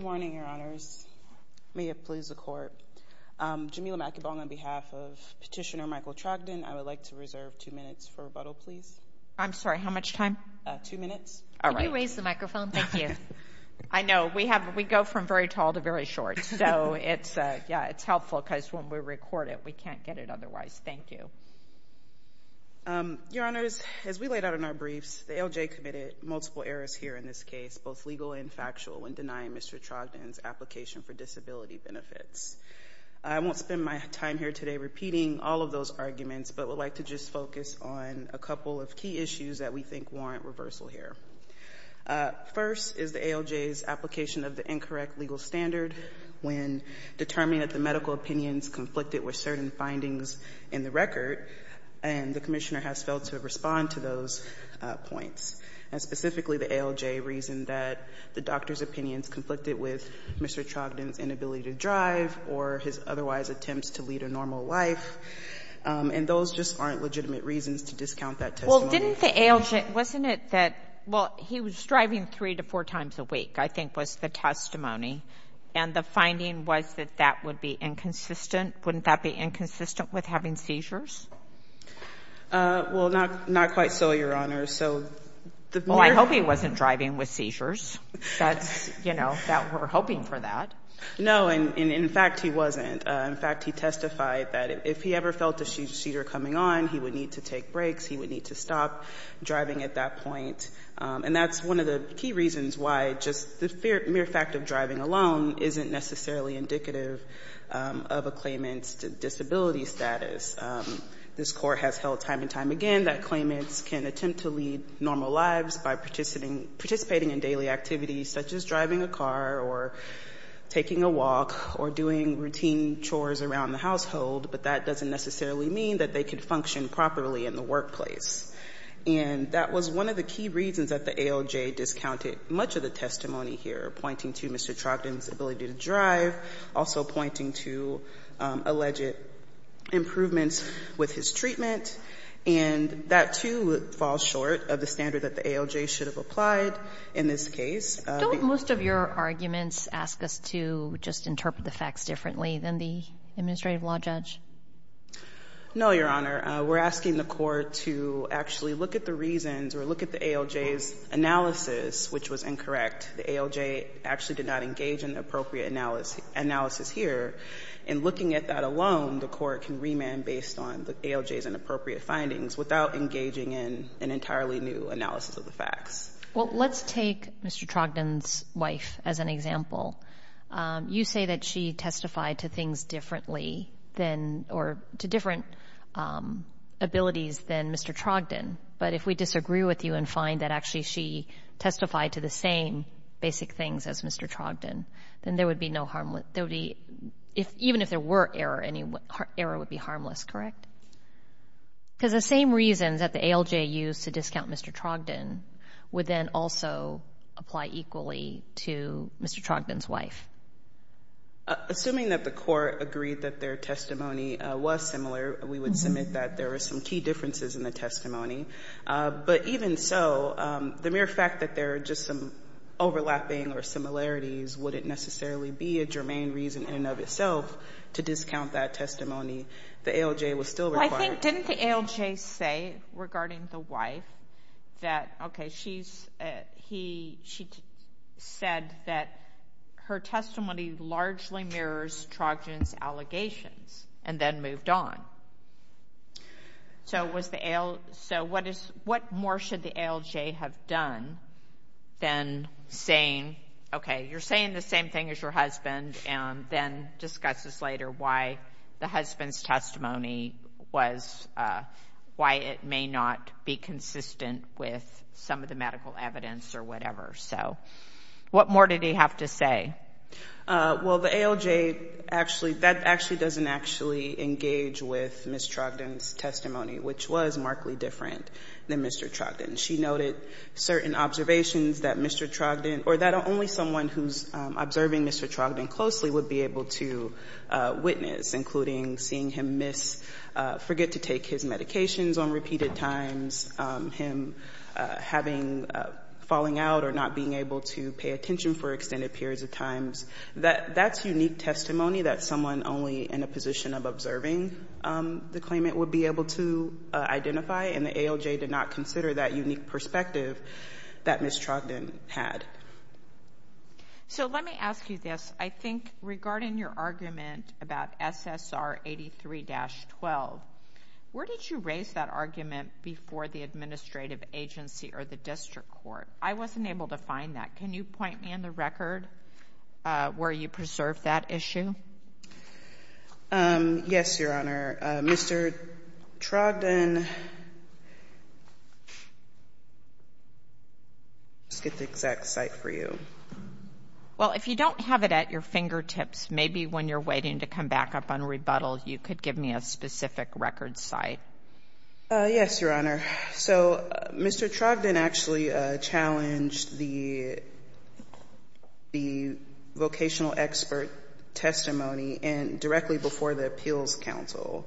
Good morning, Your Honors. May it please the Court. Jamila McEvong, on behalf of Petitioner Michael Trogdon, I would like to reserve two minutes for rebuttal please. I'm sorry, how much time? Two minutes. Can you raise the microphone? Thank you. I know, we go from very tall to very short, so it's helpful because when we record it, we can't get it otherwise. Thank you. Your Honors, as we laid out in our briefs, the ALJ committed multiple errors here in this case, both legal and factual, in denying Mr. Trogdon's application for disability benefits. I won't spend my time here today repeating all of those arguments, but would like to just focus on a couple of key issues that we think warrant reversal here. First is the ALJ's application of the incorrect legal standard when determining that the medical opinions conflicted with certain findings in the record, and the Commissioner has failed to respond to those points. And specifically, the ALJ reasoned that the doctor's opinions conflicted with Mr. Trogdon's inability to drive or his otherwise attempts to lead a normal life, and those just aren't legitimate reasons to discount that testimony. Well, didn't the ALJ, wasn't it that, well, he was driving three to four times a week, I think, was the testimony, and the finding was that that would be inconsistent? Wouldn't that be inconsistent with having seizures? Well, not quite so, Your Honors. So the mere Well, I hope he wasn't driving with seizures. That's, you know, that we're hoping for that. No, and in fact, he wasn't. In fact, he testified that if he ever felt a seizure coming on, he would need to take breaks, he would need to stop driving at that point. And that's one of the key reasons why just the mere fact of driving alone isn't necessarily indicative of a claimant's disability status. This Court has held time and time again that claimants can attempt to lead normal lives by participating in daily activities such as driving a car or taking a walk or doing routine chores around the household, but that doesn't necessarily mean that they can function properly in the workplace. And that was one of the key reasons that the ALJ discounted much of the testimony here, pointing to Mr. Trogdon's ability to drive, also pointing to alleged improvements with his treatment. And that, too, falls short of the standard that the ALJ should have applied in this case. Don't most of your arguments ask us to just interpret the facts differently than the administrative law judge? No, Your Honor. We're asking the Court to actually look at the reasons or look at the ALJ's analysis, which was incorrect. The ALJ actually did not engage in the appropriate analysis here. And looking at that alone, the Court can remand based on the ALJ's inappropriate findings without engaging in an entirely new analysis of the facts. Well, let's take Mr. Trogdon's wife as an example. You say that she testified to things differently than or to different abilities than Mr. Trogdon. But if we disagree with you and find that actually she testified to the same basic things as Mr. Trogdon, then there would be no harm, there would be, even if there were error, any error would be harmless, correct? Because the same reasons that the ALJ used to discount Mr. Trogdon would then also apply equally to Mr. Trogdon's wife. Assuming that the Court agreed that their testimony was similar, we would submit that there were some key differences in the testimony. But even so, the mere fact that there are just some overlapping or similarities wouldn't necessarily be a germane reason in and of itself to discount that testimony. The ALJ was still required. Well, I think, didn't the ALJ say regarding the wife that, okay, she said that her testimony largely mirrors Trogdon's allegations and then moved on? So, what more should the ALJ have done than saying, okay, you're saying the same thing as your husband and then discuss this later, why the husband's testimony was, why it may not be consistent with some of the medical evidence or whatever? So, what more did he have to say? Well, the ALJ actually, that actually doesn't actually engage with Ms. Trogdon's testimony, which was markedly different than Mr. Trogdon. She noted certain observations that Mr. Trogdon or that only someone who's observing Mr. Trogdon closely would be able to witness, including seeing him miss, forget to take his medications on repeated times, him having, falling out or not being able to pay attention for extended periods of times. That's unique testimony that someone only in a position of observing the claimant would be able to identify, and the ALJ did not consider that unique perspective that Ms. Trogdon had. So, let me ask you this. I think regarding your argument about SSR 83-12, where did you raise that argument before the administrative agency or the district court? I wasn't able to find that. Can you point me in the record where you preserved that issue? Yes, Your Honor. Mr. Trogdon, let's get the exact citation. Mr. Trogdon, I'm sorry, Mr. Trogdon, let's get the exact site for you. Well, if you don't have it at your fingertips, maybe when you're waiting to come back up on rebuttal, you could give me a specific record site. Yes, Your Honor. So, Mr. Trogdon actually challenged the vocational expert testimony and directly before the appeals council,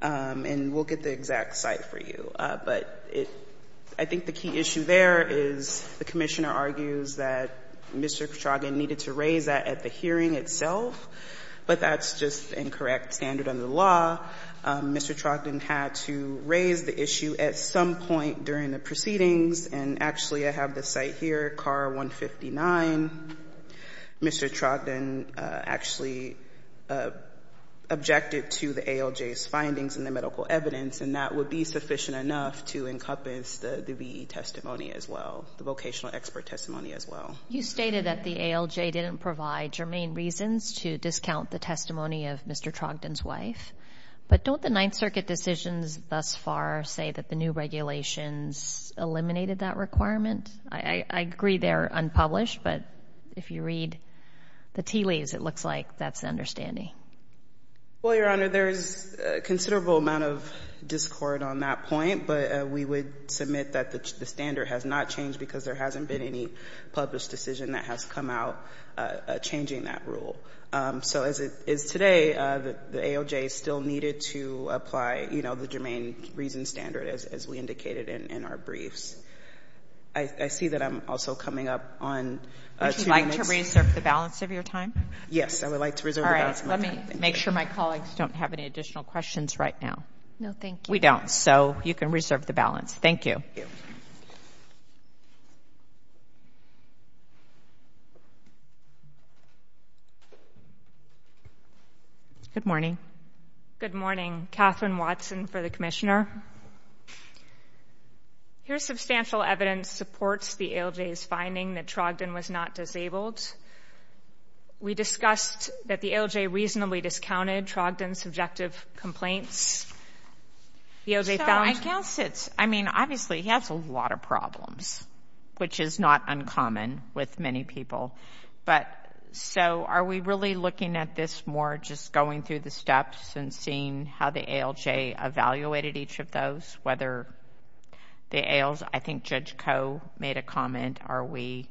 and we'll get the exact site for you. But I think the key issue there is the commissioner argues that Mr. Trogdon needed to raise that at the hearing itself, but that's just incorrect standard under the law. Mr. Trogdon had to raise the issue at some point during the proceedings, and actually I have the site here, CAR 159. Mr. Trogdon actually objected to the ALJ's findings in the medical evidence, and that would be sufficient enough to encompass the V.E. testimony as well, the vocational expert testimony as well. You stated that the ALJ didn't provide germane reasons to discount the testimony of Mr. Trogdon's wife, but don't the Ninth Circuit decisions thus far say that the new regulations eliminated that requirement? I agree they're unpublished, but if you read the tea leaves, it looks like that's the understanding. Well, Your Honor, there's a considerable amount of discord on that point, but we would submit that the standard has not changed because there hasn't been any published decision that has come out changing that rule. So as it is today, the ALJ still needed to apply, you know, the germane reason standard as we indicated in our briefs. I see that I'm also coming up on two minutes. Would you like to reserve the balance of your time? Yes, I would like to reserve the balance of my time. Let me make sure my colleagues don't have any additional questions right now. No, thank you. We don't. So you can reserve the balance. Thank you. Good morning. Good morning. Katherine Watson for the Commissioner. Here's substantial evidence supports the ALJ's finding that Trogdon was not disabled. We discussed that the ALJ reasonably discounted Trogdon's subjective complaints. So I guess it's, I mean, obviously he has a lot of problems, which is not uncommon with many people, but so are we really looking at this more just going through the steps and seeing how the ALJ evaluated each of those? Whether the ALJ, I think Judge Koh made a point that we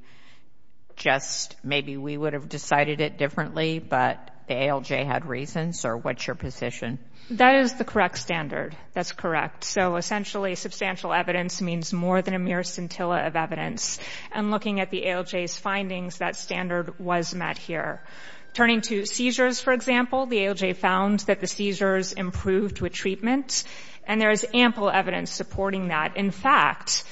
just, maybe we would have decided it differently, but the ALJ had reasons or what's your position? That is the correct standard. That's correct. So essentially substantial evidence means more than a mere scintilla of evidence. And looking at the ALJ's findings, that standard was met here. Turning to seizures, for example, the ALJ found that the seizures improved with treatment and there is ample evidence supporting that. In fact,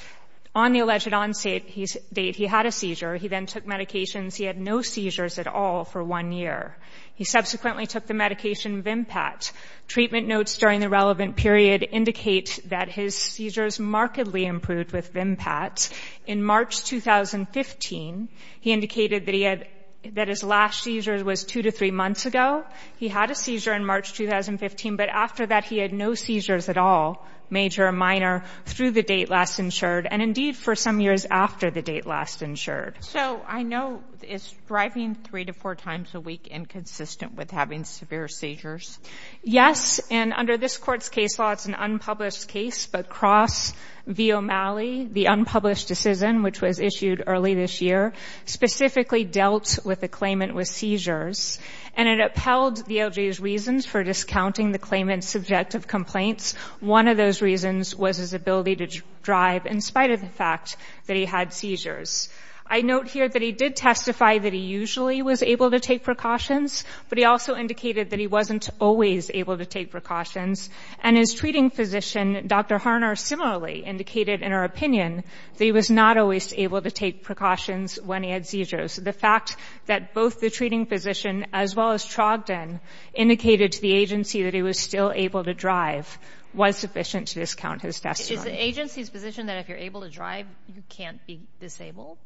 on the alleged on-date, he had a seizure. He then took medications. He had no seizures at all for one year. He subsequently took the medication Vimpat. Treatment notes during the relevant period indicate that his seizures markedly improved with Vimpat. In March 2015, he indicated that he had, that his last seizure was two to three months ago. He had a seizure in March 2015, but after that he had no seizures at all, major or minor, through the date last insured and indeed for some years after the date last insured. So I know it's driving three to four times a week inconsistent with having severe seizures. Yes. And under this court's case law, it's an unpublished case, but Cross v. O'Malley, the unpublished decision, which was issued early this year, specifically dealt with the claimant with seizures. And it upheld the ALJ's reasons for discounting the claimant's subjective complaints. One of those reasons was his ability to drive in spite of the fact that he had seizures. I note here that he did testify that he usually was able to take precautions, but he also indicated that he wasn't always able to take precautions. And his treating physician, Dr. Harner, similarly indicated in her opinion that he was not always able to take precautions when he had seizures. The fact that both the treating physician as well as Trogdon indicated to the agency that he was still able to drive was sufficient to discount his testimony. Is the agency's position that if you're able to drive, you can't be disabled?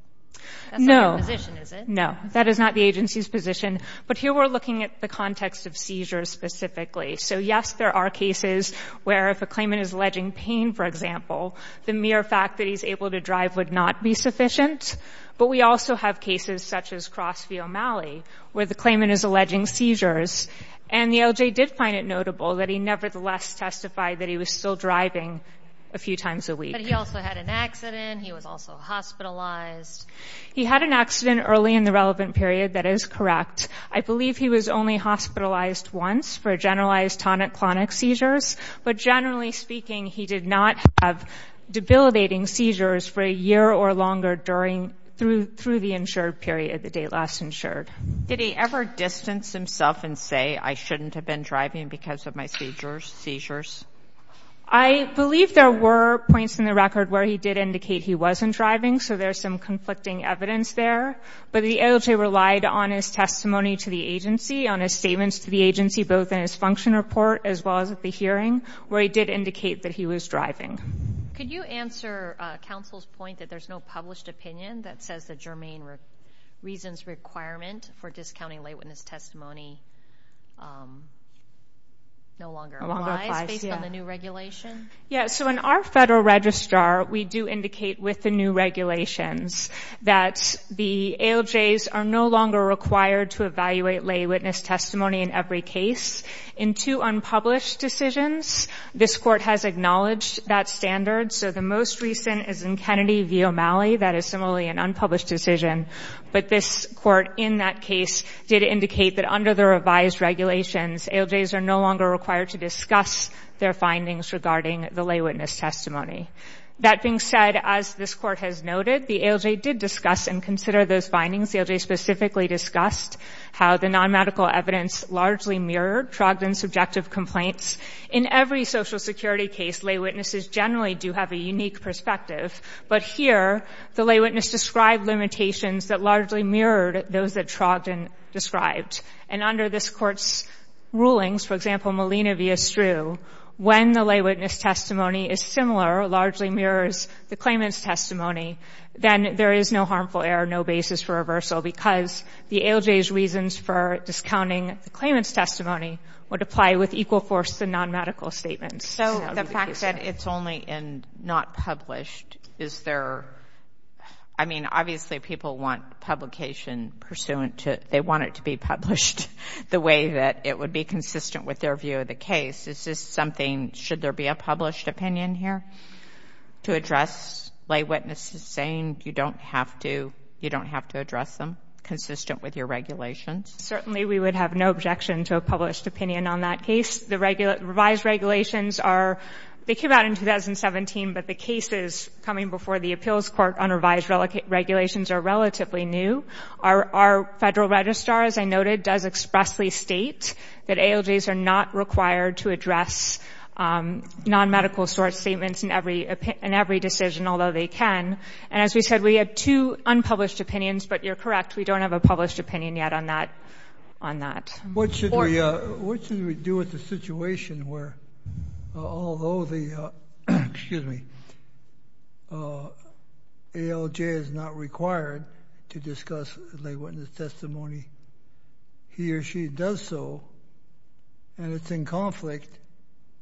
No. That's not your position, is it? No. That is not the agency's position. But here we're looking at the context of seizures specifically. So, yes, there are cases where if a claimant is alleging pain, for example, the mere fact that he's able to drive would not be sufficient. But we also have cases such as Crossview, O'Malley, where the claimant is alleging seizures. And the LJ did find it notable that he nevertheless testified that he was still driving a few times a week. But he also had an accident. He was also hospitalized. He had an accident early in the relevant period. That is correct. I believe he was only hospitalized once for generalized tonic-clonic seizures. But generally speaking, he did not have debilitating seizures for a year or longer during — through the insured period, the date last insured. Did he ever distance himself and say, I shouldn't have been driving because of my seizures? I believe there were points in the record where he did indicate he wasn't driving, so there's some conflicting evidence there. But the LJ relied on his testimony to the agency, on his statements to the agency, both in his function report as well as at the hearing, where he did indicate that he was driving. Could you answer counsel's point that there's no published opinion that says the germane reasons requirement for discounting lay witness testimony no longer applies based on the new regulation? Yeah, so in our federal registrar, we do indicate with the new regulations that the ALJs are no longer required to evaluate lay witness testimony in every case. In two unpublished decisions, this Court has acknowledged that standard. So the most recent is in Kennedy v. O'Malley. That is similarly an unpublished decision. But this Court in that case did indicate that under the revised regulations, ALJs are no longer required to discuss their findings regarding the lay witness testimony. That being said, as this Court has noted, the ALJ did discuss and consider those findings. The ALJ specifically discussed how the nonmedical evidence largely mirrored drugged and subjective complaints. In every Social Security case, lay witnesses generally do have a unique perspective. But here, the lay witness described limitations that largely mirrored those that Trogdon described. And under this Court's rulings, for example, Molina v. Estru, when the lay witness testimony is similar, largely mirrors the claimant's testimony, then there is no harmful error, no basis for reversal, because the ALJ's for discounting the claimant's testimony would apply with equal force to nonmedical statements. So the fact that it's only in not published, is there — I mean, obviously, people want publication pursuant to — they want it to be published the way that it would be consistent with their view of the case. Is this something — should there be a published opinion here to address lay witnesses saying you don't have to — you don't have to address them consistent with your regulations? Certainly, we would have no objection to a published opinion on that case. The revised regulations are — they came out in 2017, but the cases coming before the Appeals Court on revised regulations are relatively new. Our Federal Registrar, as I noted, does expressly state that ALJs are not required to address nonmedical source statements in every decision, although they can. And as we said, we have two unpublished opinions, but you're correct, we don't have a published opinion yet on that. What should we do with the situation where, although the — excuse me — ALJ is not required to discuss lay witness testimony, he or she does so, and it's in conflict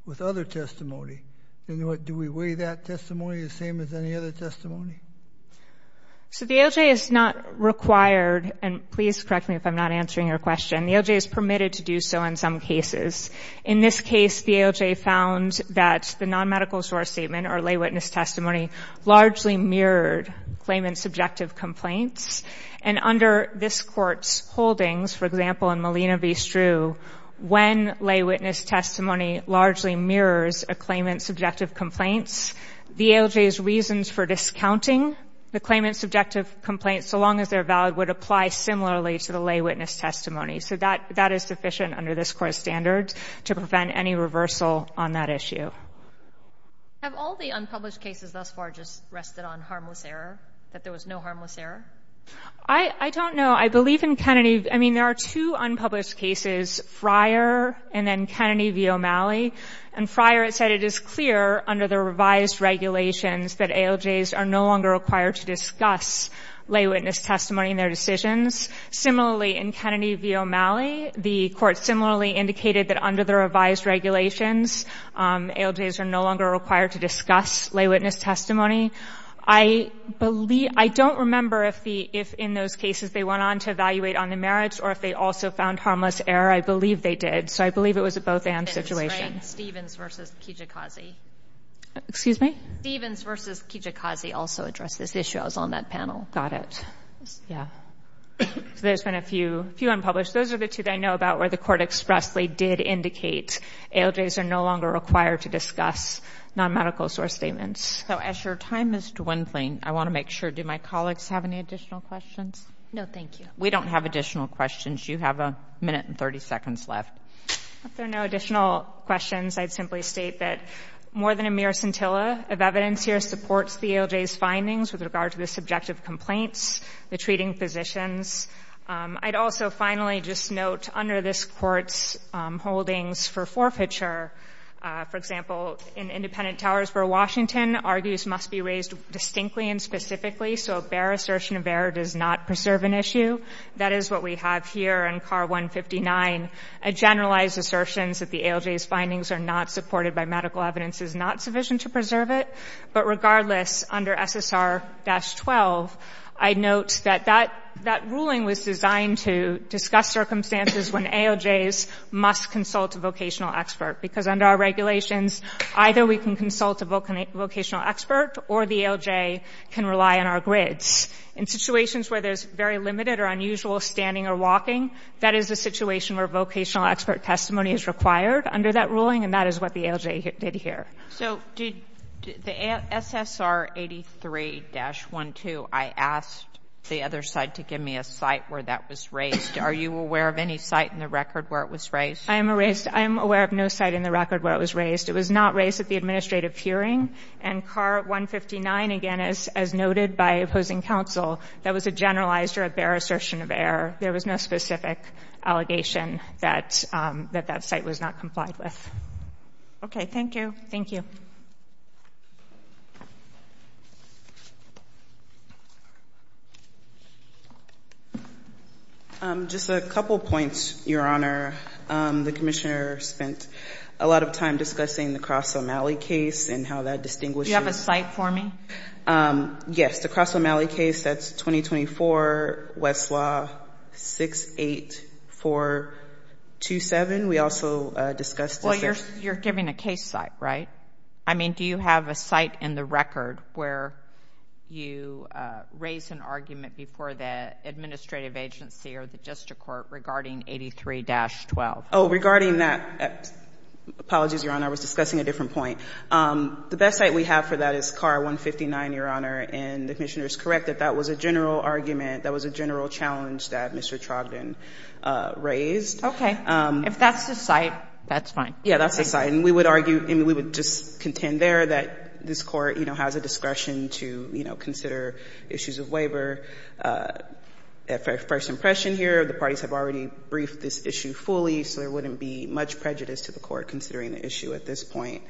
with other testimony? And what — do we weigh that testimony the same as any other testimony? So the ALJ is not required — and please correct me if I'm not answering your question — the ALJ is permitted to do so in some cases. In this case, the ALJ found that the nonmedical source statement or lay witness testimony largely mirrored claimant subjective complaints. And under this Court's holdings, for example, in Molina v. Strew, when lay witness testimony largely mirrors a claimant's subjective complaints, the ALJ's reasons for discounting the claimant's subjective complaints, so long as they're valid, would apply similarly to the lay witness testimony. So that is sufficient under this Court's standards to prevent any reversal on that issue. Have all the unpublished cases thus far just rested on harmless error, that there was no harmless error? I don't know. I believe in Kennedy — I mean, there are two unpublished cases prior and then Kennedy v. O'Malley. And prior, it said it is clear under the revised regulations that ALJs are no longer required to discuss lay witness testimony in their decisions. Similarly, in Kennedy v. O'Malley, the Court similarly indicated that under the revised regulations, ALJs are no longer required to discuss lay witness testimony. I believe — I don't remember if the — if in those cases they went on to evaluate on the merits or if they also found harmless error. I believe they did. So I believe it was a both-and situation. And it's Frank Stevens v. Kijikazi. Excuse me? Stevens v. Kijikazi also addressed this issue. I was on that panel. Got it. Yeah. So there's been a few unpublished. Those are the two that I know about where the Court expressly did indicate ALJs are no longer required to discuss non-medical source statements. So as your time is dwindling, I want to make sure — do my colleagues have any additional questions? No, thank you. We don't have additional questions. You have a minute and 30 seconds left. If there are no additional questions, I'd simply state that more than a mere scintilla of evidence here supports the ALJ's findings with regard to the subjective complaints, the treating physicians. I'd also finally just note under this Court's holdings for forfeiture, for example, in Independent Towers v. Washington, argues must be raised distinctly and specifically so a bare assertion of error does not preserve an issue. That is what we have here in C.A.R. 159. A generalized assertion that the ALJ's findings are not supported by medical evidence is not sufficient to preserve it. But regardless, under SSR-12, I note that that ruling was designed to discuss circumstances when ALJs must consult a vocational expert. Because under our regulations, either we can consult a vocational expert or the ALJ can rely on our grids. In situations where there's very limited or unusual standing or walking, that is a situation where vocational expert testimony is required under that ruling, and that is what the ALJ did here. So did the SSR-83-12, I asked the other side to give me a site where that was raised. Are you aware of any site in the record where it was raised? I am aware of no site in the record where it was raised. It was not raised at the administrative hearing, and C.A.R. 159, again, as noted by opposing counsel, that was a generalized or a bare assertion of error. There was no specific allegation that that site was not complied with. Okay, thank you. Thank you. Just a couple points, Your Honor. The Commissioner spent a lot of time discussing the Cross O'Malley case and how that distinguishes- Do you have a site for me? Yes, the Cross O'Malley case, that's 2024, Westlaw 68427. We also discussed- Well, you're giving a case site, right? I mean, do you have a site in the record where you raise an argument before the administrative agency or the district court regarding 83-12? Oh, regarding that, apologies, Your Honor, I was discussing a different point. The best site we have for that is C.A.R. 159, Your Honor, and the Commissioner is correct that that was a general argument, that was a general challenge that Mr. Trogdon raised. Okay. If that's the site, that's fine. Yeah, that's the site, and we would argue, and we would just contend there that this Court, you know, has a discretion to, you know, consider issues of waiver. At first impression here, the parties have already briefed this issue fully, so there wouldn't be much prejudice to the Court considering the issue at this point.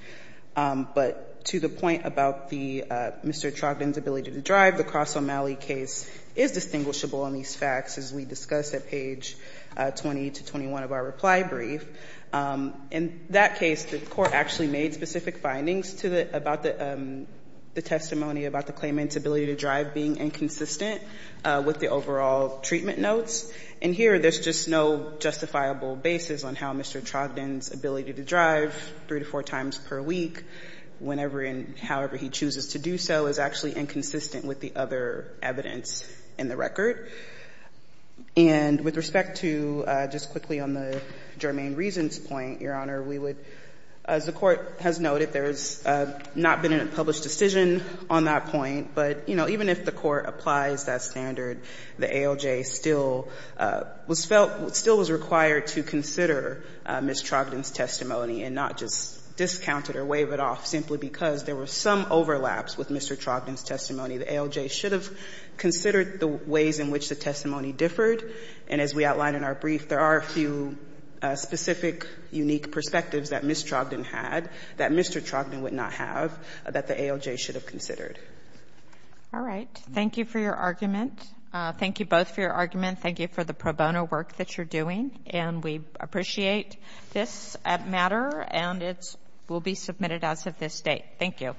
But to the point about Mr. Trogdon's ability to drive, the Cross O'Malley case is distinguishable on these facts, as we discussed at page 20 to 21 of our reply brief. In that case, the Court actually made specific findings about the testimony about the claimant's ability to drive being inconsistent with the overall treatment notes. And here, there's just no justifiable basis on how Mr. Trogdon's ability to drive three to four times per week, whenever and however he chooses to do so, is actually inconsistent with the other evidence in the record. And with respect to, just quickly on the germane reasons point, Your Honor, we would, as the Court has noted, there has not been a published decision on that point, but, you know, even if the Court applies that standard, the ALJ still was felt, still was required to consider Ms. Trogdon's testimony and not just discount it or waive it off, simply because there were some overlaps with Mr. Trogdon's testimony. The ALJ should have considered the ways in which the testimony differed. And as we outlined in our brief, there are a few specific, unique perspectives that Ms. Trogdon had that Mr. Trogdon would not have that the ALJ should have considered. All right. Thank you for your argument. Thank you both for your argument. Thank you for the pro bono work that you're doing. And we appreciate this matter, and it will be submitted as of this date. Thank you.